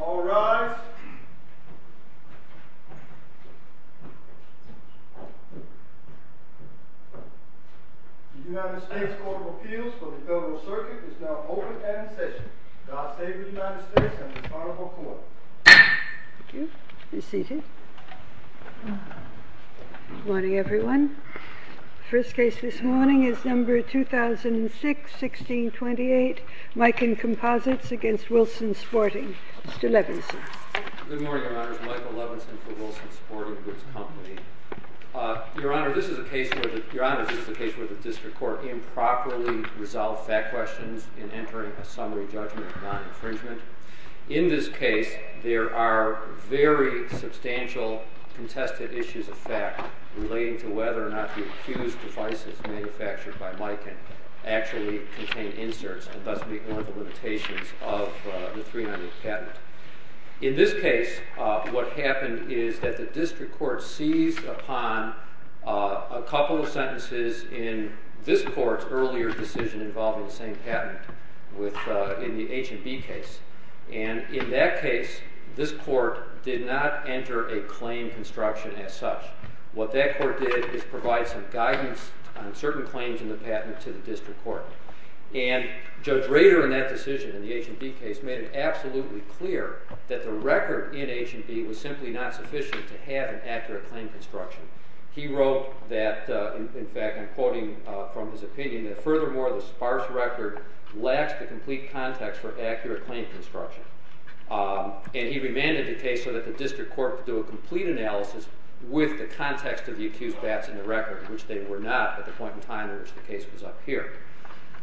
All rise. The United States Court of Appeals for the Federal Circuit is now open and in session. God Save the United States and the Honorable Court. Thank you. Be seated. Good morning, everyone. First case this morning is number 2006-1628, Miken Composites v. Wilson Sporting. Mr. Levinson. Good morning, Your Honors. Michael Levinson for Wilson Sporting Goods Company. Your Honor, this is a case where the District Court improperly resolved fact questions in entering a summary judgment of non-infringement. In this case, there are very substantial contested issues of fact relating to whether or not the accused's devices manufactured by Miken actually contain inserts, and thus meet one of the limitations of the 390 patent. In this case, what happened is that the District Court seized upon a couple of sentences in this Court's earlier decision involving the same patent in the H&B case. And in that case, this Court did not enter a claim construction as such. What that Court did is provide some guidance on certain claims in the patent to the District Court. And Judge Rader, in that decision in the H&B case, made it absolutely clear that the record in H&B was simply not sufficient to have an accurate claim construction. He wrote that, in fact, I'm quoting from his opinion, that, furthermore, the sparse record lacks the complete context for accurate claim construction. And he remanded the case so that the District Court could do a complete analysis with the context of the accused's bats in the record, which they were not at the point in time in which the case was up here.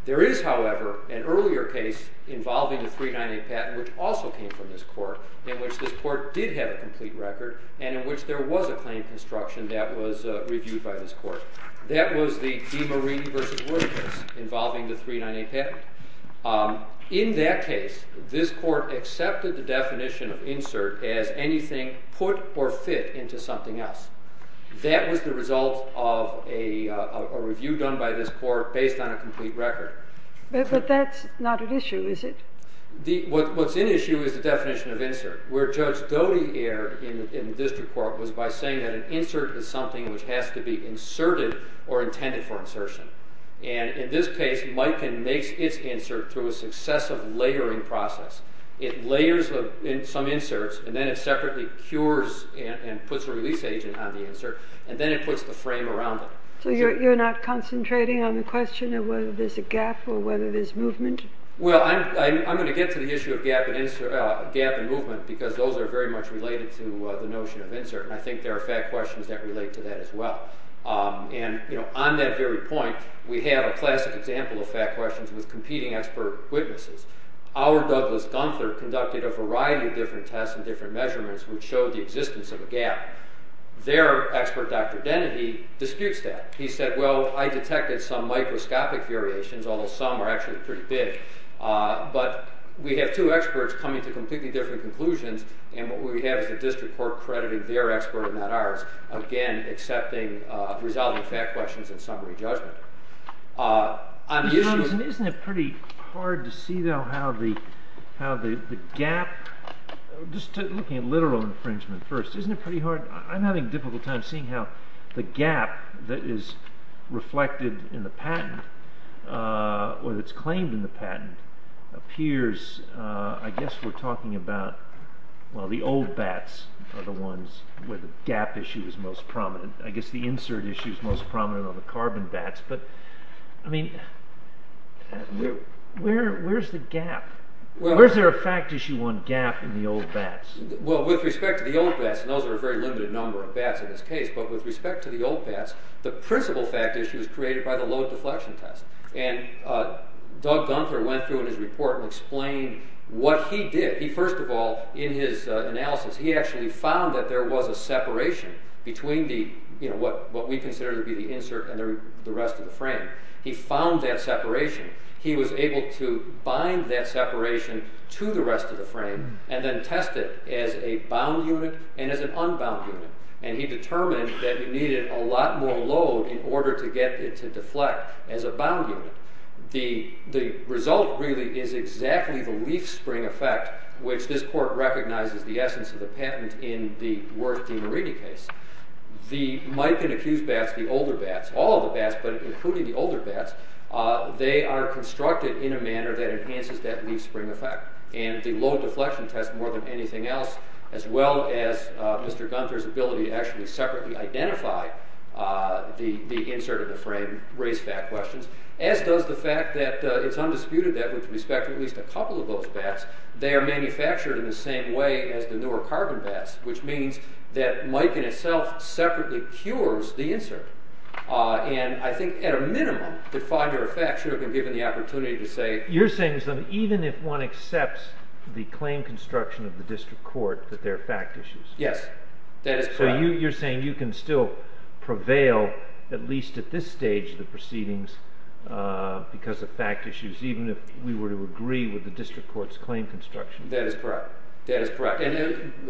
There is, however, an earlier case involving the 390 patent, which also came from this Court, in which this Court did have a complete record, and in which there was a claim construction that was reviewed by this Court. That was the DiMarini v. Wood case involving the 390 patent. In that case, this Court accepted the definition of insert as anything put or fit into something else. That was the result of a review done by this Court based on a complete record. But that's not an issue, is it? What's an issue is the definition of insert, where Judge Doty erred in the District Court was by saying that an insert is something which has to be inserted or intended for insertion. And in this case, Mikekin makes its insert through a successive layering process. It layers some inserts, and then it separately cures and puts a release agent on the insert, and then it puts the frame around it. So you're not concentrating on the question of whether there's a gap or whether there's movement? Well, I'm going to get to the issue of gap and movement, because those are very much related to the notion of insert, and I think there are fact questions that relate to that as well. And on that very point, we have a classic example of fact questions with competing expert witnesses. Our Douglas Gunther conducted a variety of different tests and different measurements which showed the existence of a gap. Their expert, Dr. Dennedy, disputes that. He said, well, I detected some microscopic variations, although some are actually pretty big. But we have two experts coming to completely different conclusions, and what we have is the District Court crediting their expert and not ours, again, accepting resulting fact questions and summary judgment. Mr. Robinson, isn't it pretty hard to see, though, how the gap— just looking at literal infringement first, isn't it pretty hard? I'm having a difficult time seeing how the gap that is reflected in the patent or that's claimed in the patent appears—I guess we're talking about, well, the old bats are the ones where the gap issue is most prominent. I guess the insert issue is most prominent on the carbon bats. But, I mean, where's the gap? Where's there a fact issue on gap in the old bats? Well, with respect to the old bats, and those are a very limited number of bats in this case, but with respect to the old bats, the principal fact issue is created by the load deflection test. And Doug Gunther went through in his report and explained what he did. He, first of all, in his analysis, he actually found that there was a separation between what we consider to be the insert and the rest of the frame. He found that separation. He was able to bind that separation to the rest of the frame and then test it as a bound unit and as an unbound unit. And he determined that it needed a lot more load in order to get it to deflect. So he used that as a bound unit. The result, really, is exactly the leaf spring effect, which this court recognizes the essence of the patent in the Worth v. Meridi case. The Mike and Accused bats, the older bats, all of the bats, but including the older bats, they are constructed in a manner that enhances that leaf spring effect. And the load deflection test, more than anything else, as well as Mr. Gunther's ability to actually separately identify the insert of the frame raise fact questions, as does the fact that it's undisputed that with respect to at least a couple of those bats, they are manufactured in the same way as the newer carbon bats, which means that Mike in itself separately cures the insert. And I think, at a minimum, that five-year effect should have been given the opportunity to say— You're saying that even if one accepts the claim construction of the district court, that they're fact issues? Yes. That is correct. So you're saying you can still prevail, at least at this stage of the proceedings, because of fact issues, even if we were to agree with the district court's claim construction? That is correct. That is correct.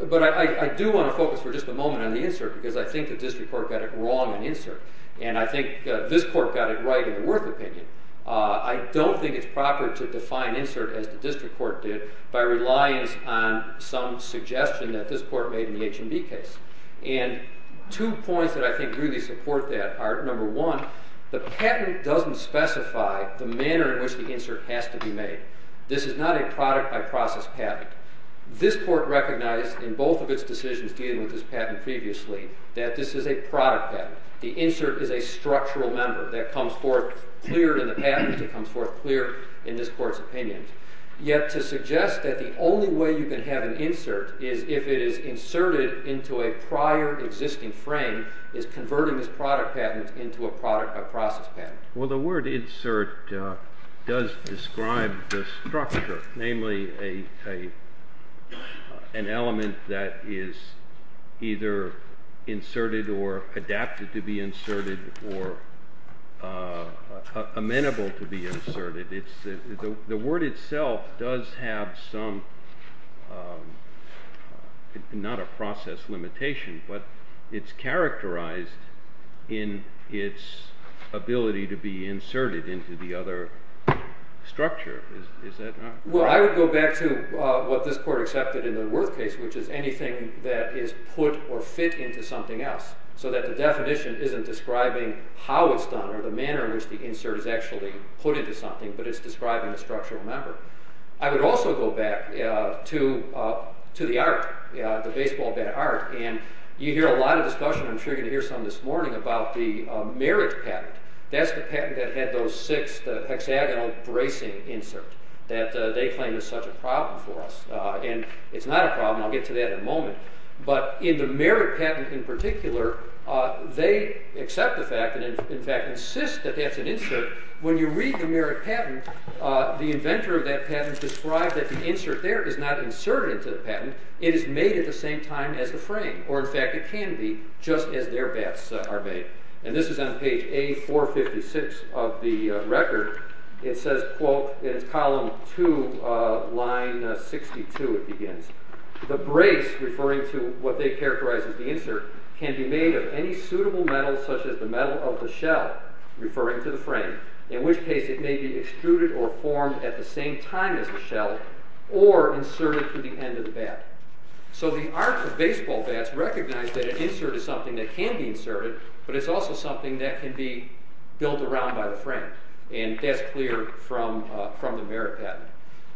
But I do want to focus for just a moment on the insert, because I think the district court got it wrong in the insert. And I think this court got it right in the Worth opinion. I don't think it's proper to define insert as the district court did by reliance on some suggestion that this court made in the HMB case. And two points that I think really support that are, number one, the patent doesn't specify the manner in which the insert has to be made. This is not a product-by-process patent. This court recognized in both of its decisions dealing with this patent previously that this is a product patent. The insert is a structural member that comes forth clear in the patent. It comes forth clear in this court's opinion. Yet to suggest that the only way you can have an insert is if it is inserted into a prior existing frame is converting this product patent into a process patent. Well, the word insert does describe the structure, namely an element that is either inserted or adapted to be inserted or amenable to be inserted. The word itself does have some, not a process limitation, but it's characterized in its ability to be inserted into the other structure. Is that not right? Well, I would go back to what this court accepted in the Worth case, which is anything that is put or fit into something else so that the definition isn't describing how it's done or the manner in which the insert is actually put into something, but it's describing a structural member. I would also go back to the art, the baseball bat art. You hear a lot of discussion, I'm sure you're going to hear some this morning, about the merit patent. That's the patent that had those six hexagonal bracing inserts that they claim is such a problem for us. It's not a problem. I'll get to that in a moment. But in the merit patent in particular, they accept the fact and in fact insist that that's an insert. When you read the merit patent, the inventor of that patent described that the insert there is not inserted into the patent. It is made at the same time as the frame, or in fact it can be, just as their bats are made. And this is on page A456 of the record. It says, quote, in column two, line 62 it begins, The brace, referring to what they characterize as the insert, can be made of any suitable metal, such as the metal of the shell, referring to the frame, in which case it may be extruded or formed at the same time as the shell, or inserted through the end of the bat. So the art of baseball bats recognize that an insert is something that can be inserted, but it's also something that can be built around by the frame. And that's clear from the merit patent.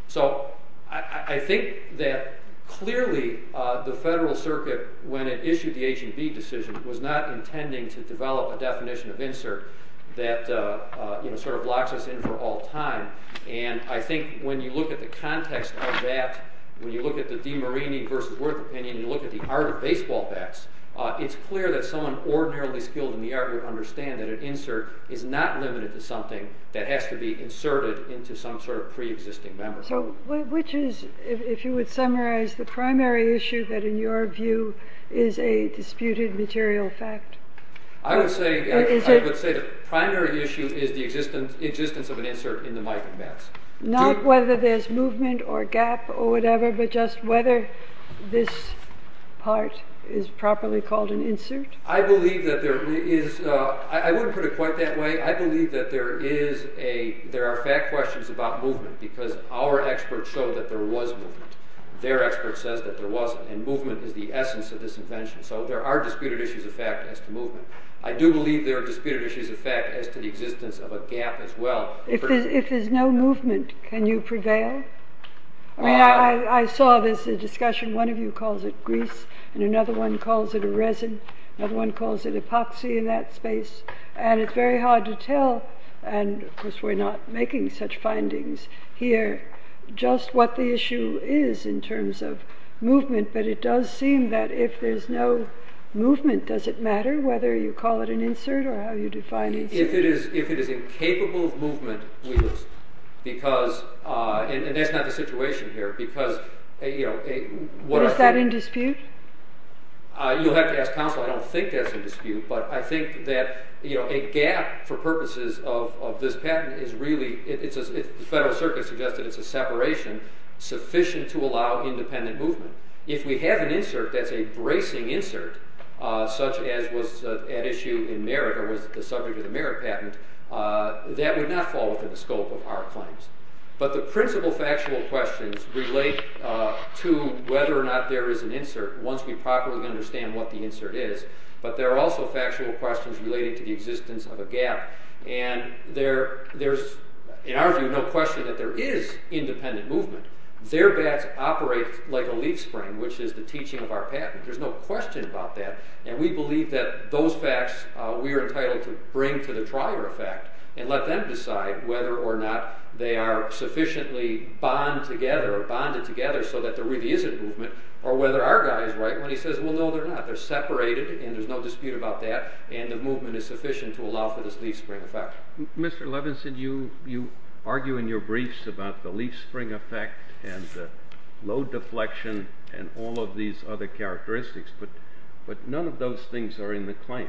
So I think that clearly the Federal Circuit, when it issued the H&B decision, was not intending to develop a definition of insert that sort of locks us in for all time. And I think when you look at the context of that, when you look at the DiMarini versus Worth opinion, you look at the art of baseball bats, it's clear that someone ordinarily skilled in the art would understand that an insert is not limited to something that has to be inserted into some sort of pre-existing memory. So which is, if you would summarize, the primary issue that in your view is a disputed material fact? I would say the primary issue is the existence of an insert in the migrant bats. Not whether there's movement or gap or whatever, but just whether this part is properly called an insert? I believe that there is... I wouldn't put it quite that way. I believe that there are fact questions about movement because our experts show that there was movement. Their expert says that there wasn't, and movement is the essence of this invention. So there are disputed issues of fact as to movement. I do believe there are disputed issues of fact as to the existence of a gap as well. If there's no movement, can you prevail? I saw this discussion, one of you calls it grease, and another one calls it a resin, another one calls it epoxy in that space, and it's very hard to tell, and of course we're not making such findings here, just what the issue is in terms of movement, but it does seem that if there's no movement, does it matter whether you call it an insert or how you define an insert? If it is incapable of movement, we lose. And that's not the situation here. But is that in dispute? You'll have to ask counsel. I don't think that's in dispute, but I think that a gap for purposes of this patent is really, the Federal Circuit suggested it's a separation, sufficient to allow independent movement. If we have an insert that's a bracing insert, such as was at issue in Merritt, or was the subject of the Merritt patent, that would not fall within the scope of our claims. But the principal factual questions relate to whether or not there is an insert once we properly understand what the insert is, but there are also factual questions relating to the existence of a gap. And there's, in our view, no question that there is independent movement. Their bats operate like a leaf spring, which is the teaching of our patent. There's no question about that, and we believe that those facts we are entitled to bring to the trier of fact and let them decide whether or not they are sufficiently bonded together so that there really isn't movement, or whether our guy is right when he says, well, no, they're not. They're separated, and there's no dispute about that, and the movement is sufficient to allow for this leaf spring effect. Mr. Levinson, you argue in your briefs about the leaf spring effect and the load deflection and all of these other characteristics, but none of those things are in the claims.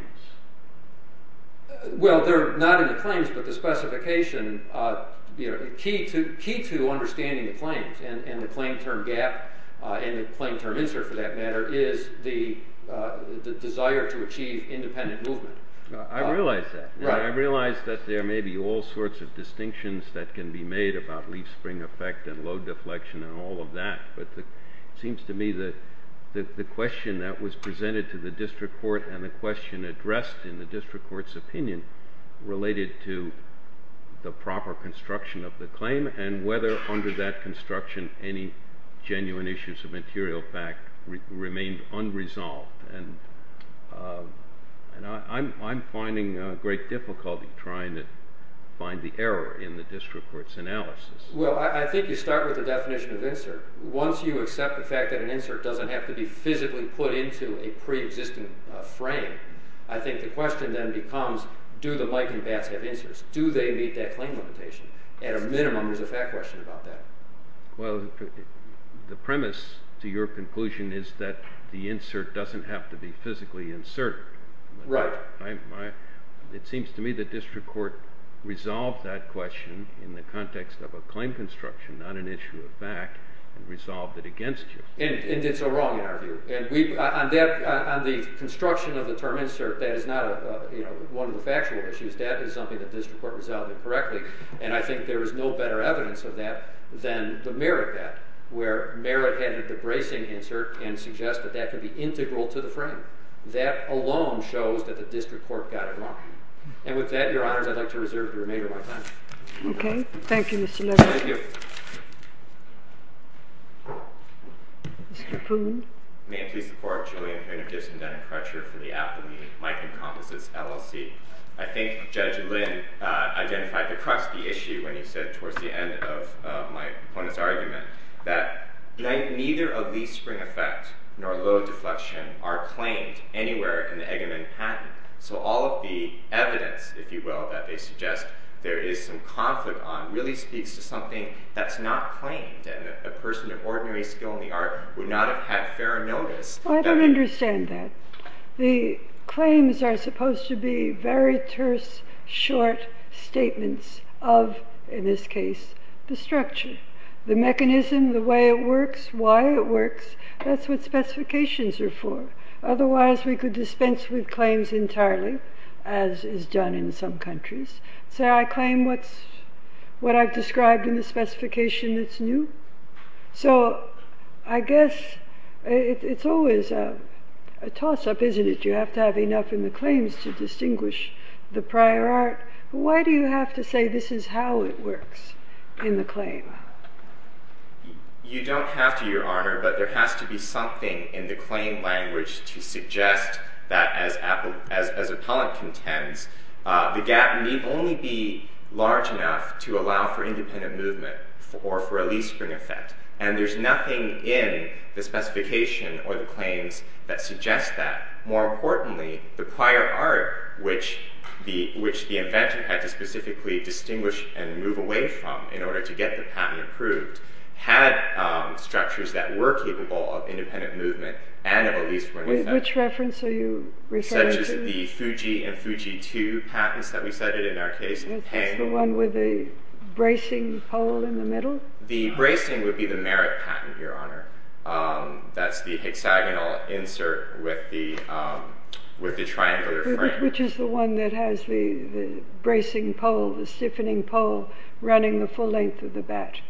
Well, they're not in the claims, but the specification, the key to understanding the claims and the claim term gap, and the claim term insert, for that matter, is the desire to achieve independent movement. I realize that. I realize that there may be all sorts of distinctions that can be made about leaf spring effect and load deflection and all of that, but it seems to me that the question that was presented to the district court and the question addressed in the district court's opinion related to the proper construction of the claim and whether under that construction any genuine issues of material fact remained unresolved, and I'm finding great difficulty trying to find the error in the district court's analysis. Well, I think you start with the definition of insert. Once you accept the fact that an insert doesn't have to be physically put into a preexistent frame, I think the question then becomes do the Mike and Bats have inserts? Do they meet that claim limitation? At a minimum, there's a fact question about that. Well, the premise to your conclusion is that the insert doesn't have to be physically inserted. Right. It seems to me the district court resolved that question in the context of a claim construction, not an issue of fact, and resolved it against you. And did so wrong, in our view. On the construction of the term insert, that is not one of the factual issues. That is something the district court resolved incorrectly, and I think there is no better evidence of that than the Merritt bet, where Merritt handed the bracing insert and suggested that could be integral to the frame. That alone shows that the district court got it wrong. And with that, Your Honors, I'd like to reserve the remainder of my time. Okay. Thank you, Mr. Levine. Thank you. Mr. Poon. May I please support Julian Poon, Gibson, Dunn, and Crutcher for the Appellee Mike Encompasses LLC? I think Judge Lynn identified the crusty issue when he said towards the end of my opponent's argument that neither a leaf spring effect nor a load deflection are claimed anywhere in the Eggerman patent. So all of the evidence, if you will, that they suggest there is some conflict on really speaks to something that's not claimed, and a person of ordinary skill in the art would not have had fair notice. I don't understand that. The claims are supposed to be very terse, short statements of, in this case, the structure. The mechanism, the way it works, why it works, that's what specifications are for. Otherwise, we could dispense with claims entirely, as is done in some countries. Say I claim what I've described in the specification that's new. So I guess it's always a toss-up, isn't it? You have to have enough in the claims to distinguish the prior art. Why do you have to say this is how it works in the claim? You don't have to, Your Honor, but there has to be something in the claim language to suggest that as appellant contends, the gap may only be large enough to allow for independent movement or for a leaf spring effect. And there's nothing in the specification or the claims that suggests that. More importantly, the prior art, which the inventor had to specifically distinguish and move away from in order to get the patent approved, had structures that were capable of independent movement and of a leaf spring effect. Which reference are you referring to? Such as the Fuji and Fuji II patents that we cited in our case. The one with the bracing hole in the middle? The bracing would be the merit patent, Your Honor. That's the hexagonal insert with the triangular frame. Which is the one that has the bracing pole, the stiffening pole running the full length of the bat?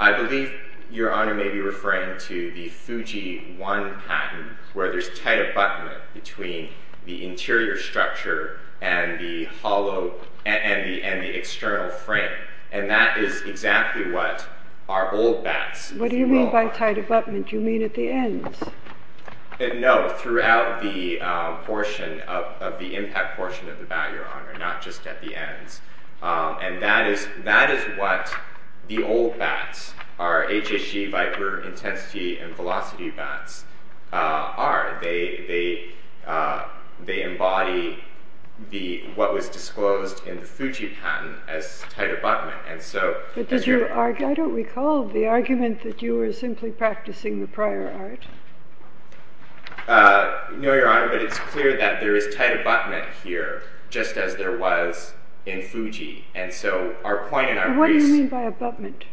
I believe, Your Honor, may be referring to the Fuji I patent, where there's tight abutment between the interior structure and the external frame. And that is exactly what our old bats... What do you mean by tight abutment? Do you mean at the ends? No, throughout the portion, of the impact portion of the bat, Your Honor, not just at the ends. And that is what the old bats, our HSE Viper Intensity and Velocity bats, are. They embody what was disclosed in the Fuji patent as tight abutment. I don't recall the argument that you were simply practicing the prior art. No, Your Honor, but it's clear that there is tight abutment here, just as there was in Fuji. What do you mean by abutment?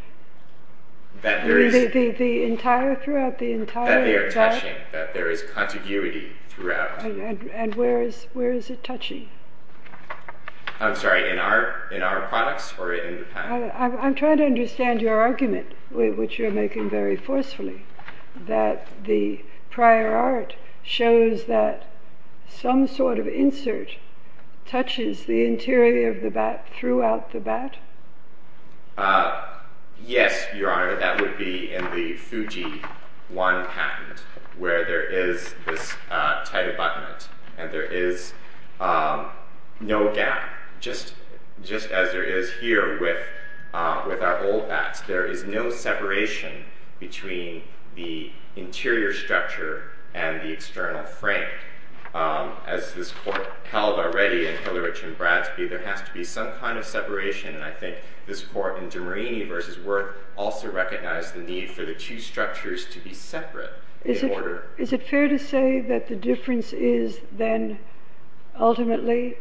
The entire, throughout the entire bat? That they are touching, that there is contiguity throughout. And where is it touching? I'm sorry, in our products or in the patent? I'm trying to understand your argument, which you're making very forcefully, that the prior art shows that some sort of insert touches the interior of the bat throughout the bat? Yes, Your Honor, that would be in the Fuji I patent, where there is this tight abutment and there is no gap, just as there is here with our old bats. There is no separation between the interior structure and the external frame. As this Court held already in Hillerich and Bradsby, there has to be some kind of separation, and I think this Court, in De Marini v. Wirth, also recognized the need for the two structures to be separate. Is it fair to say that the difference is then, ultimately,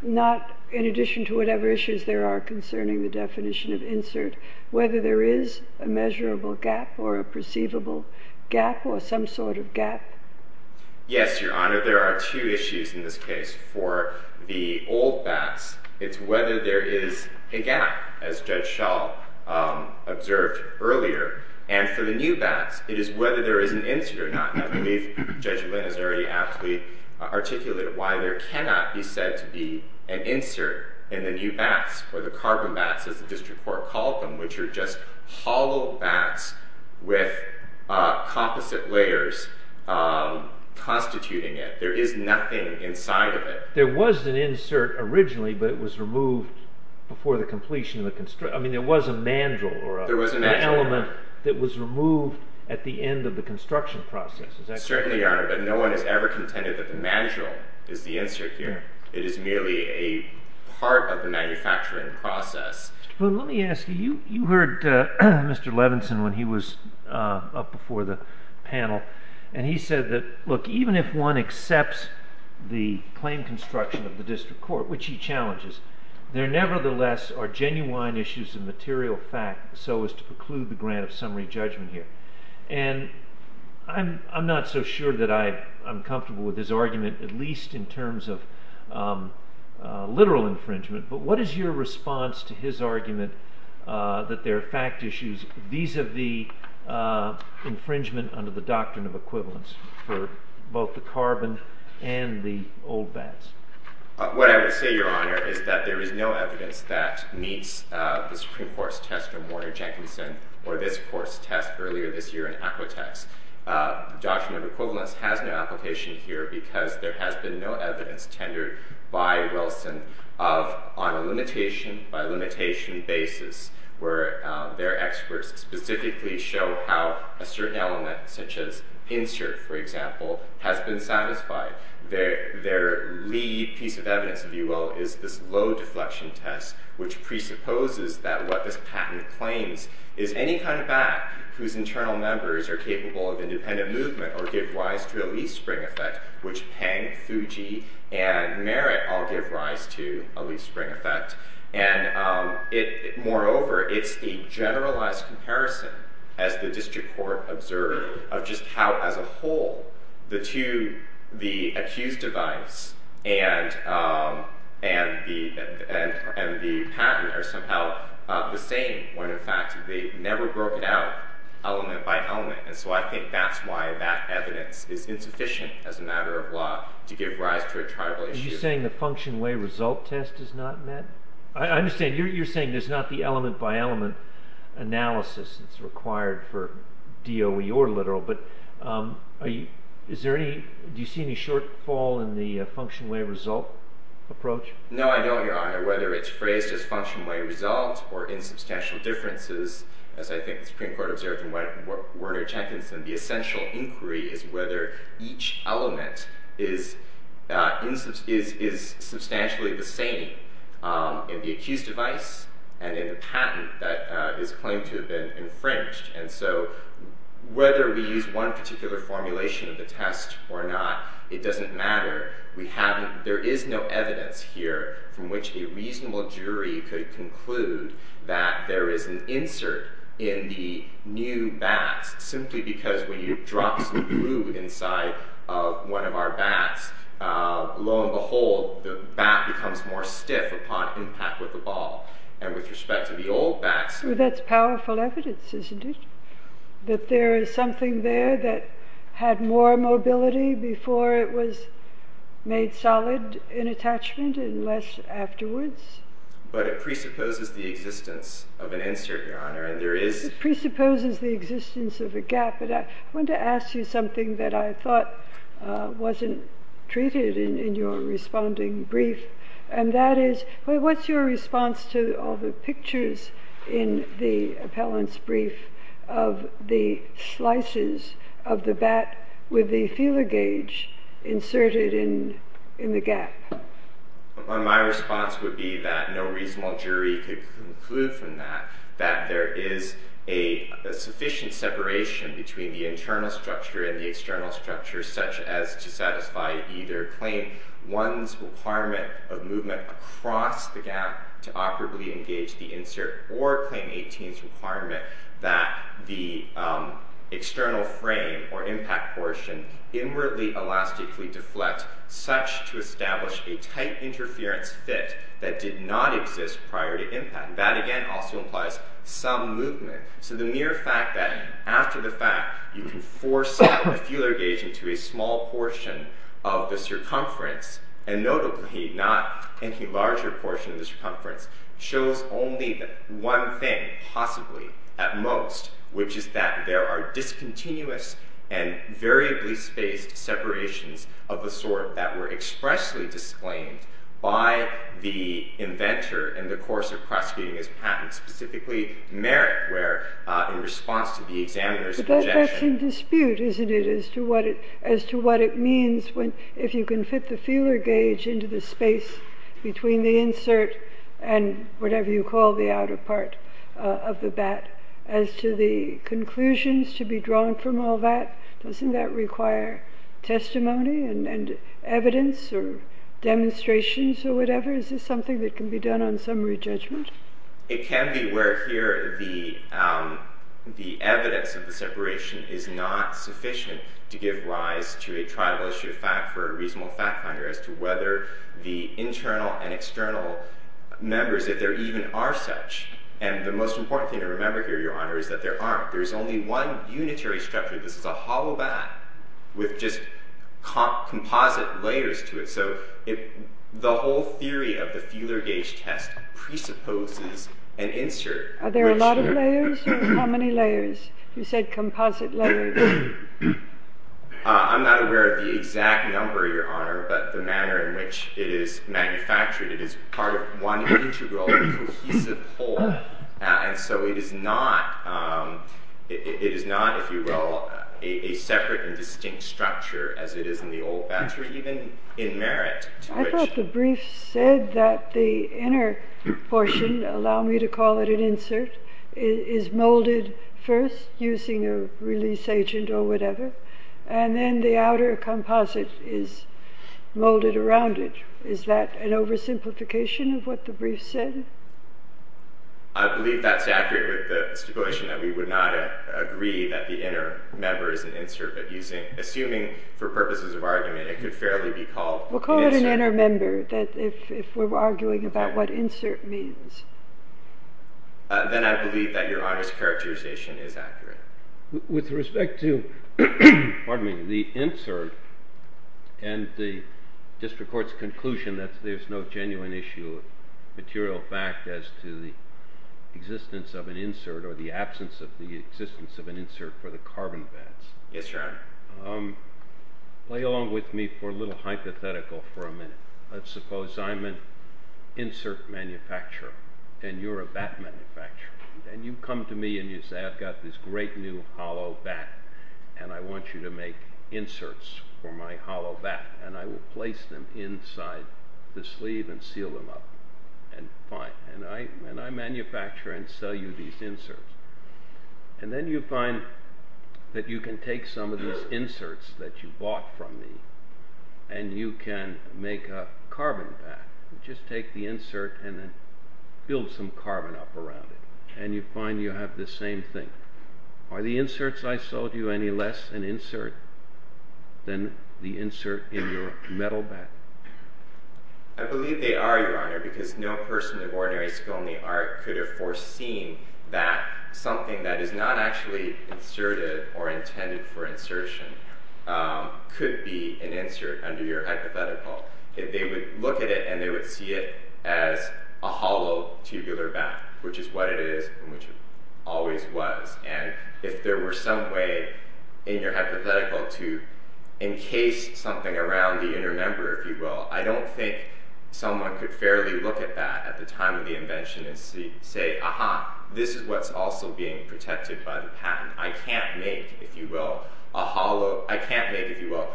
not in addition to whatever issues there are concerning the definition of insert, whether there is a measurable gap or a perceivable gap or some sort of gap? Yes, Your Honor, there are two issues in this case. For the old bats, it's whether there is a gap, as Judge Schall observed earlier. And for the new bats, it is whether there is an insert or not. And I believe Judge Lynn has already aptly articulated why there cannot be said to be an insert in the new bats, or the carbon bats, as the District Court called them, which are just hollow bats with composite layers constituting it. There is nothing inside of it. There was an insert originally, but it was removed before the completion of the construction. I mean, there was a mandrel or an element that was removed at the end of the construction process. Certainly, Your Honor, but no one has ever contended that the mandrel is the insert here. It is merely a part of the manufacturing process. Mr. Poon, let me ask you, you heard Mr. Levinson when he was up before the panel, and he said that, look, even if one accepts the claim construction of the District Court, which he challenges, there nevertheless are genuine issues of material fact, so as to preclude the grant of summary judgment here. And I'm not so sure that I'm comfortable with his argument, at least in terms of literal infringement, but what is your response to his argument that there are fact issues vis-a-vis infringement under the doctrine of equivalence for both the carbon and the old bats? What I would say, Your Honor, is that there is no evidence that meets the Supreme Court's test or this Court's test earlier this year in Aquatex. The doctrine of equivalence has no application here because there has been no evidence tendered by Wilson on a limitation-by-limitation basis where their experts specifically show how a certain element, such as insert, for example, has been satisfied. Their lead piece of evidence, if you will, is this low-deflection test, which presupposes that what this patent claims is any kind of bat whose internal members are capable of independent movement or give rise to a least spring effect, which Peng, Fuji, and Merritt all give rise to a least spring effect. Moreover, it's the generalized comparison, as the district court observed, of just how, as a whole, the accused device and the patent are somehow the same when, in fact, they've never broken out element by element. And so I think that's why that evidence is insufficient as a matter of law to give rise to a tribal issue. Are you saying the function-way result test is not met? I understand. You're saying there's not the element-by-element analysis that's required for DOE or literal, but do you see any shortfall in the function-way result approach? No, I don't, Your Honor. Whether it's phrased as function-way result or insubstantial differences, as I think the Supreme Court observed in Werner Jenkins, the essential inquiry is whether each element is substantially the same in the accused device and in the patent that is claimed to have been infringed. And so whether we use one particular formulation of the test or not, it doesn't matter. There is no evidence here from which a reasonable jury could conclude that there is an insert in the new bat simply because when you drop some glue inside one of our bats, lo and behold, the bat becomes more stiff upon impact with the ball. And with respect to the old bats... Well, that's powerful evidence, isn't it? That there is something there that had more mobility before it was made solid in attachment and less afterwards? But it presupposes the existence of an insert, Your Honor, and there is... It presupposes the existence of a gap, but I wanted to ask you something that I thought wasn't treated in your responding brief, and that is, what's your response to all the pictures in the appellant's brief of the slices of the bat with the feeler gauge inserted in the gap? My response would be that no reasonable jury could conclude from that that there is a sufficient separation between the internal structure and the external structure, such as to satisfy either Claim 1's requirement of movement across the gap to operably engage the insert or Claim 18's requirement that the external frame or impact portion inwardly elastically deflect such to establish a tight interference fit that did not exist prior to impact. That, again, also implies some movement. So the mere fact that after the fact, you can force out the feeler gauge into a small portion of the circumference, and notably, not any larger portion of the circumference, shows only one thing, possibly, at most, which is that there are discontinuous and variably spaced separations of the sort that were expressly disclaimed by the inventor in the course of prosecuting his patent, specifically merit, where in response to the examiner's objection... But that's in dispute, isn't it, as to what it means if you can fit the feeler gauge into the space between the insert and whatever you call the outer part of the bat. As to the conclusions to be drawn from all that, doesn't that require testimony and evidence or demonstrations or whatever? Is this something that can be done on summary judgment? It can be where here the evidence of the separation is not sufficient to give rise to a trial issue of fact for a reasonable fact finder as to whether the internal and external members, if there even are such, and the most important thing to remember here, Your Honor, is that there aren't. There's only one unitary structure. This is a hollow bat with just composite layers to it. So the whole theory of the feeler gauge test presupposes an insert. Are there a lot of layers? How many layers? You said composite layers. I'm not aware of the exact number, Your Honor, but the manner in which it is manufactured. It is part of one integral in a cohesive whole. And so it is not, if you will, a separate and distinct structure as it is in the old bats that are even in merit. I thought the brief said that the inner portion, allow me to call it an insert, is molded first using a release agent or whatever, and then the outer composite is molded around it. Is that an oversimplification of what the brief said? I believe that's accurate with the stipulation that we would not agree that the inner member is an insert, but assuming, for purposes of argument, it could fairly be called an insert. We'll call it an inner member if we're arguing about what insert means. Then I believe that Your Honor's characterization is accurate. With respect to the insert and the district court's conclusion that there's no genuine issue of material fact as to the existence of an insert or the absence of the existence of an insert for the carbon bats. Yes, Your Honor. Play along with me for a little hypothetical for a minute. Let's suppose I'm an insert manufacturer and you're a bat manufacturer. You come to me and you say, I've got this great new hollow bat and I want you to make inserts for my hollow bat and I will place them inside the sleeve and seal them up. Fine. I manufacture and sell you these inserts. Then you find that you can take some of these inserts that you bought from me and you can make a carbon bat. Just take the insert and then build some carbon up around it and you find you have the same thing. Are the inserts I sold you any less an insert than the insert in your metal bat? I believe they are, Your Honor, because no person of ordinary skill in the art could have foreseen that something that is not actually inserted or intended for insertion could be an insert under your hypothetical. If they would look at it and they would see it as a hollow tubular bat, which is what it is and which it always was. And if there were some way in your hypothetical to encase something around the inner member, if you will, I don't think someone could fairly look at that at the time of the invention and say, aha, this is what's also being protected by the patent. I can't make, if you will, a hollow, I can't make, if you will,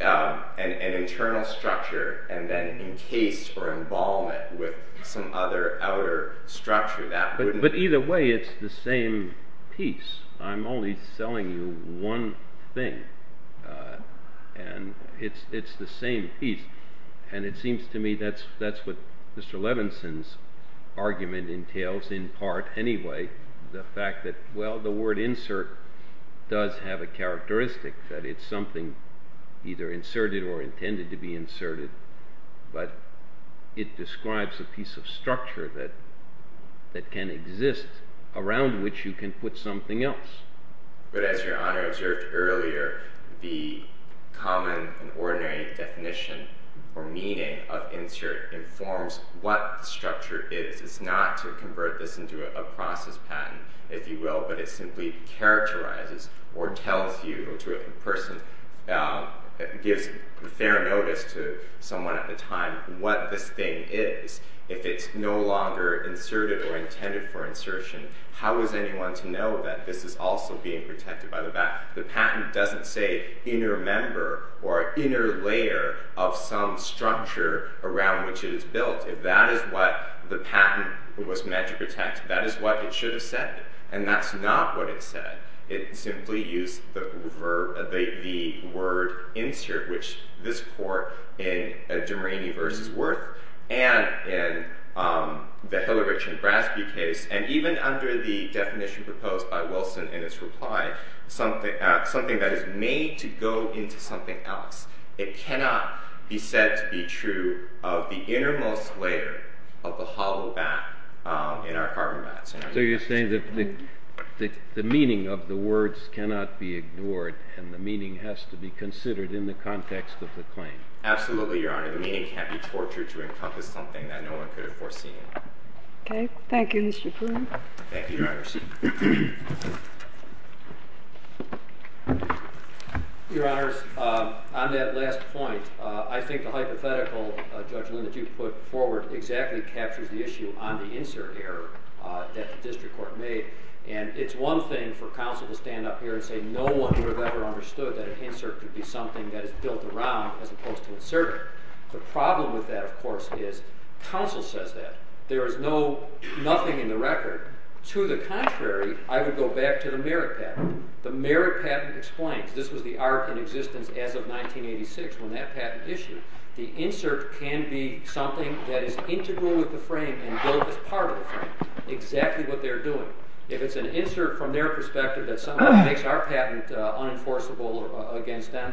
an internal structure and then encase or embalm it with some other outer structure. But either way, it's the same piece. I'm only selling you one thing. And it's the same piece. And it seems to me that's what Mr. Levinson's argument entails, in part anyway, the fact that, well, the word insert does have a characteristic that it's something either inserted or intended to be inserted, but it describes a piece of structure that can exist around which you can put something else. But as Your Honor observed earlier, the common and ordinary definition or meaning of insert informs what the structure is. It's not to convert this into a process patent, if you will, but it simply characterizes or tells you, or to a person, gives fair notice to someone at the time what this thing is. If it's no longer inserted or intended for insertion, how is anyone to know that this is also being protected by the fact the patent doesn't say inner member or inner layer of some structure around which it is built. If that is what the patent was meant to protect, that is what it should have said, and that's not what it said. It simply used the word insert, which this court in De Marini v. Wirth and in the Hillerich v. Brasby case, and even under the definition proposed by Wilson in its reply, something that is made to go into something else. It cannot be said to be true of the innermost layer of the hollow bat in our carbon bats. So you're saying that the meaning of the words cannot be ignored and the meaning has to be considered in the context of the claim. Absolutely, Your Honor. The meaning can't be tortured to encompass something that no one could have foreseen. Okay. Thank you, Mr. Pruitt. Thank you, Your Honor. Your Honors, on that last point, I think the hypothetical judgment that you put forward exactly captures the issue on the insert error that the district court made, and it's one thing for counsel to stand up here and say no one would have ever understood that an insert could be something that is built around as opposed to inserted. The problem with that, of course, is counsel says that. There is nothing in the record. To the contrary, I would go back to the merit patent. The merit patent explains. This was the art in existence as of 1986 when that patent issued. The insert can be something that is integral with the frame and built as part of the frame. Exactly what they're doing. If it's an insert from their perspective that makes our patent unenforceable against them,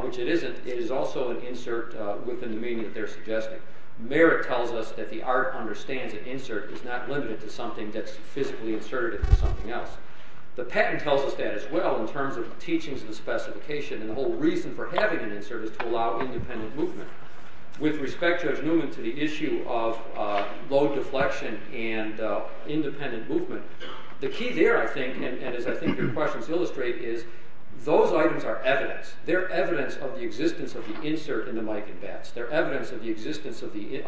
which it isn't, it is also an insert within the meaning that they're suggesting. Merit tells us that the art understands that insert is not limited to something that's physically inserted into something else. The patent tells us that as well in terms of the teachings and the specification, and the whole reason for having an insert is to allow independent movement. With respect, Judge Newman, to the issue of low deflection and independent movement, the key there, I think, and as I think your questions illustrate, is those items are evidence. They're evidence of the existence of the insert in the Mike and Bats. They're evidence of the existence of the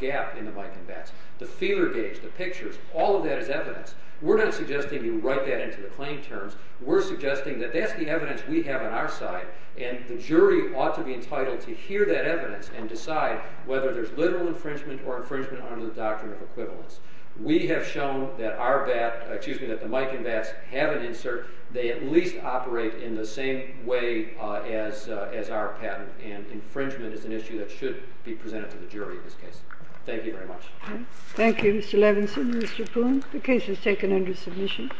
gap in the Mike and Bats. The feeler gauge, the pictures, all of that is evidence. We're not suggesting you write that into the claim terms. We're suggesting that that's the evidence we have on our side, and the jury ought to be entitled to hear that evidence and decide whether there's literal infringement or infringement under the doctrine of equivalence. We have shown that the Mike and Bats have an insert. They at least operate in the same way as our patent, and infringement is an issue that should be presented to the jury in this case. Thank you very much. Thank you, Mr. Levinson. Mr. Poon, the case is taken under submission.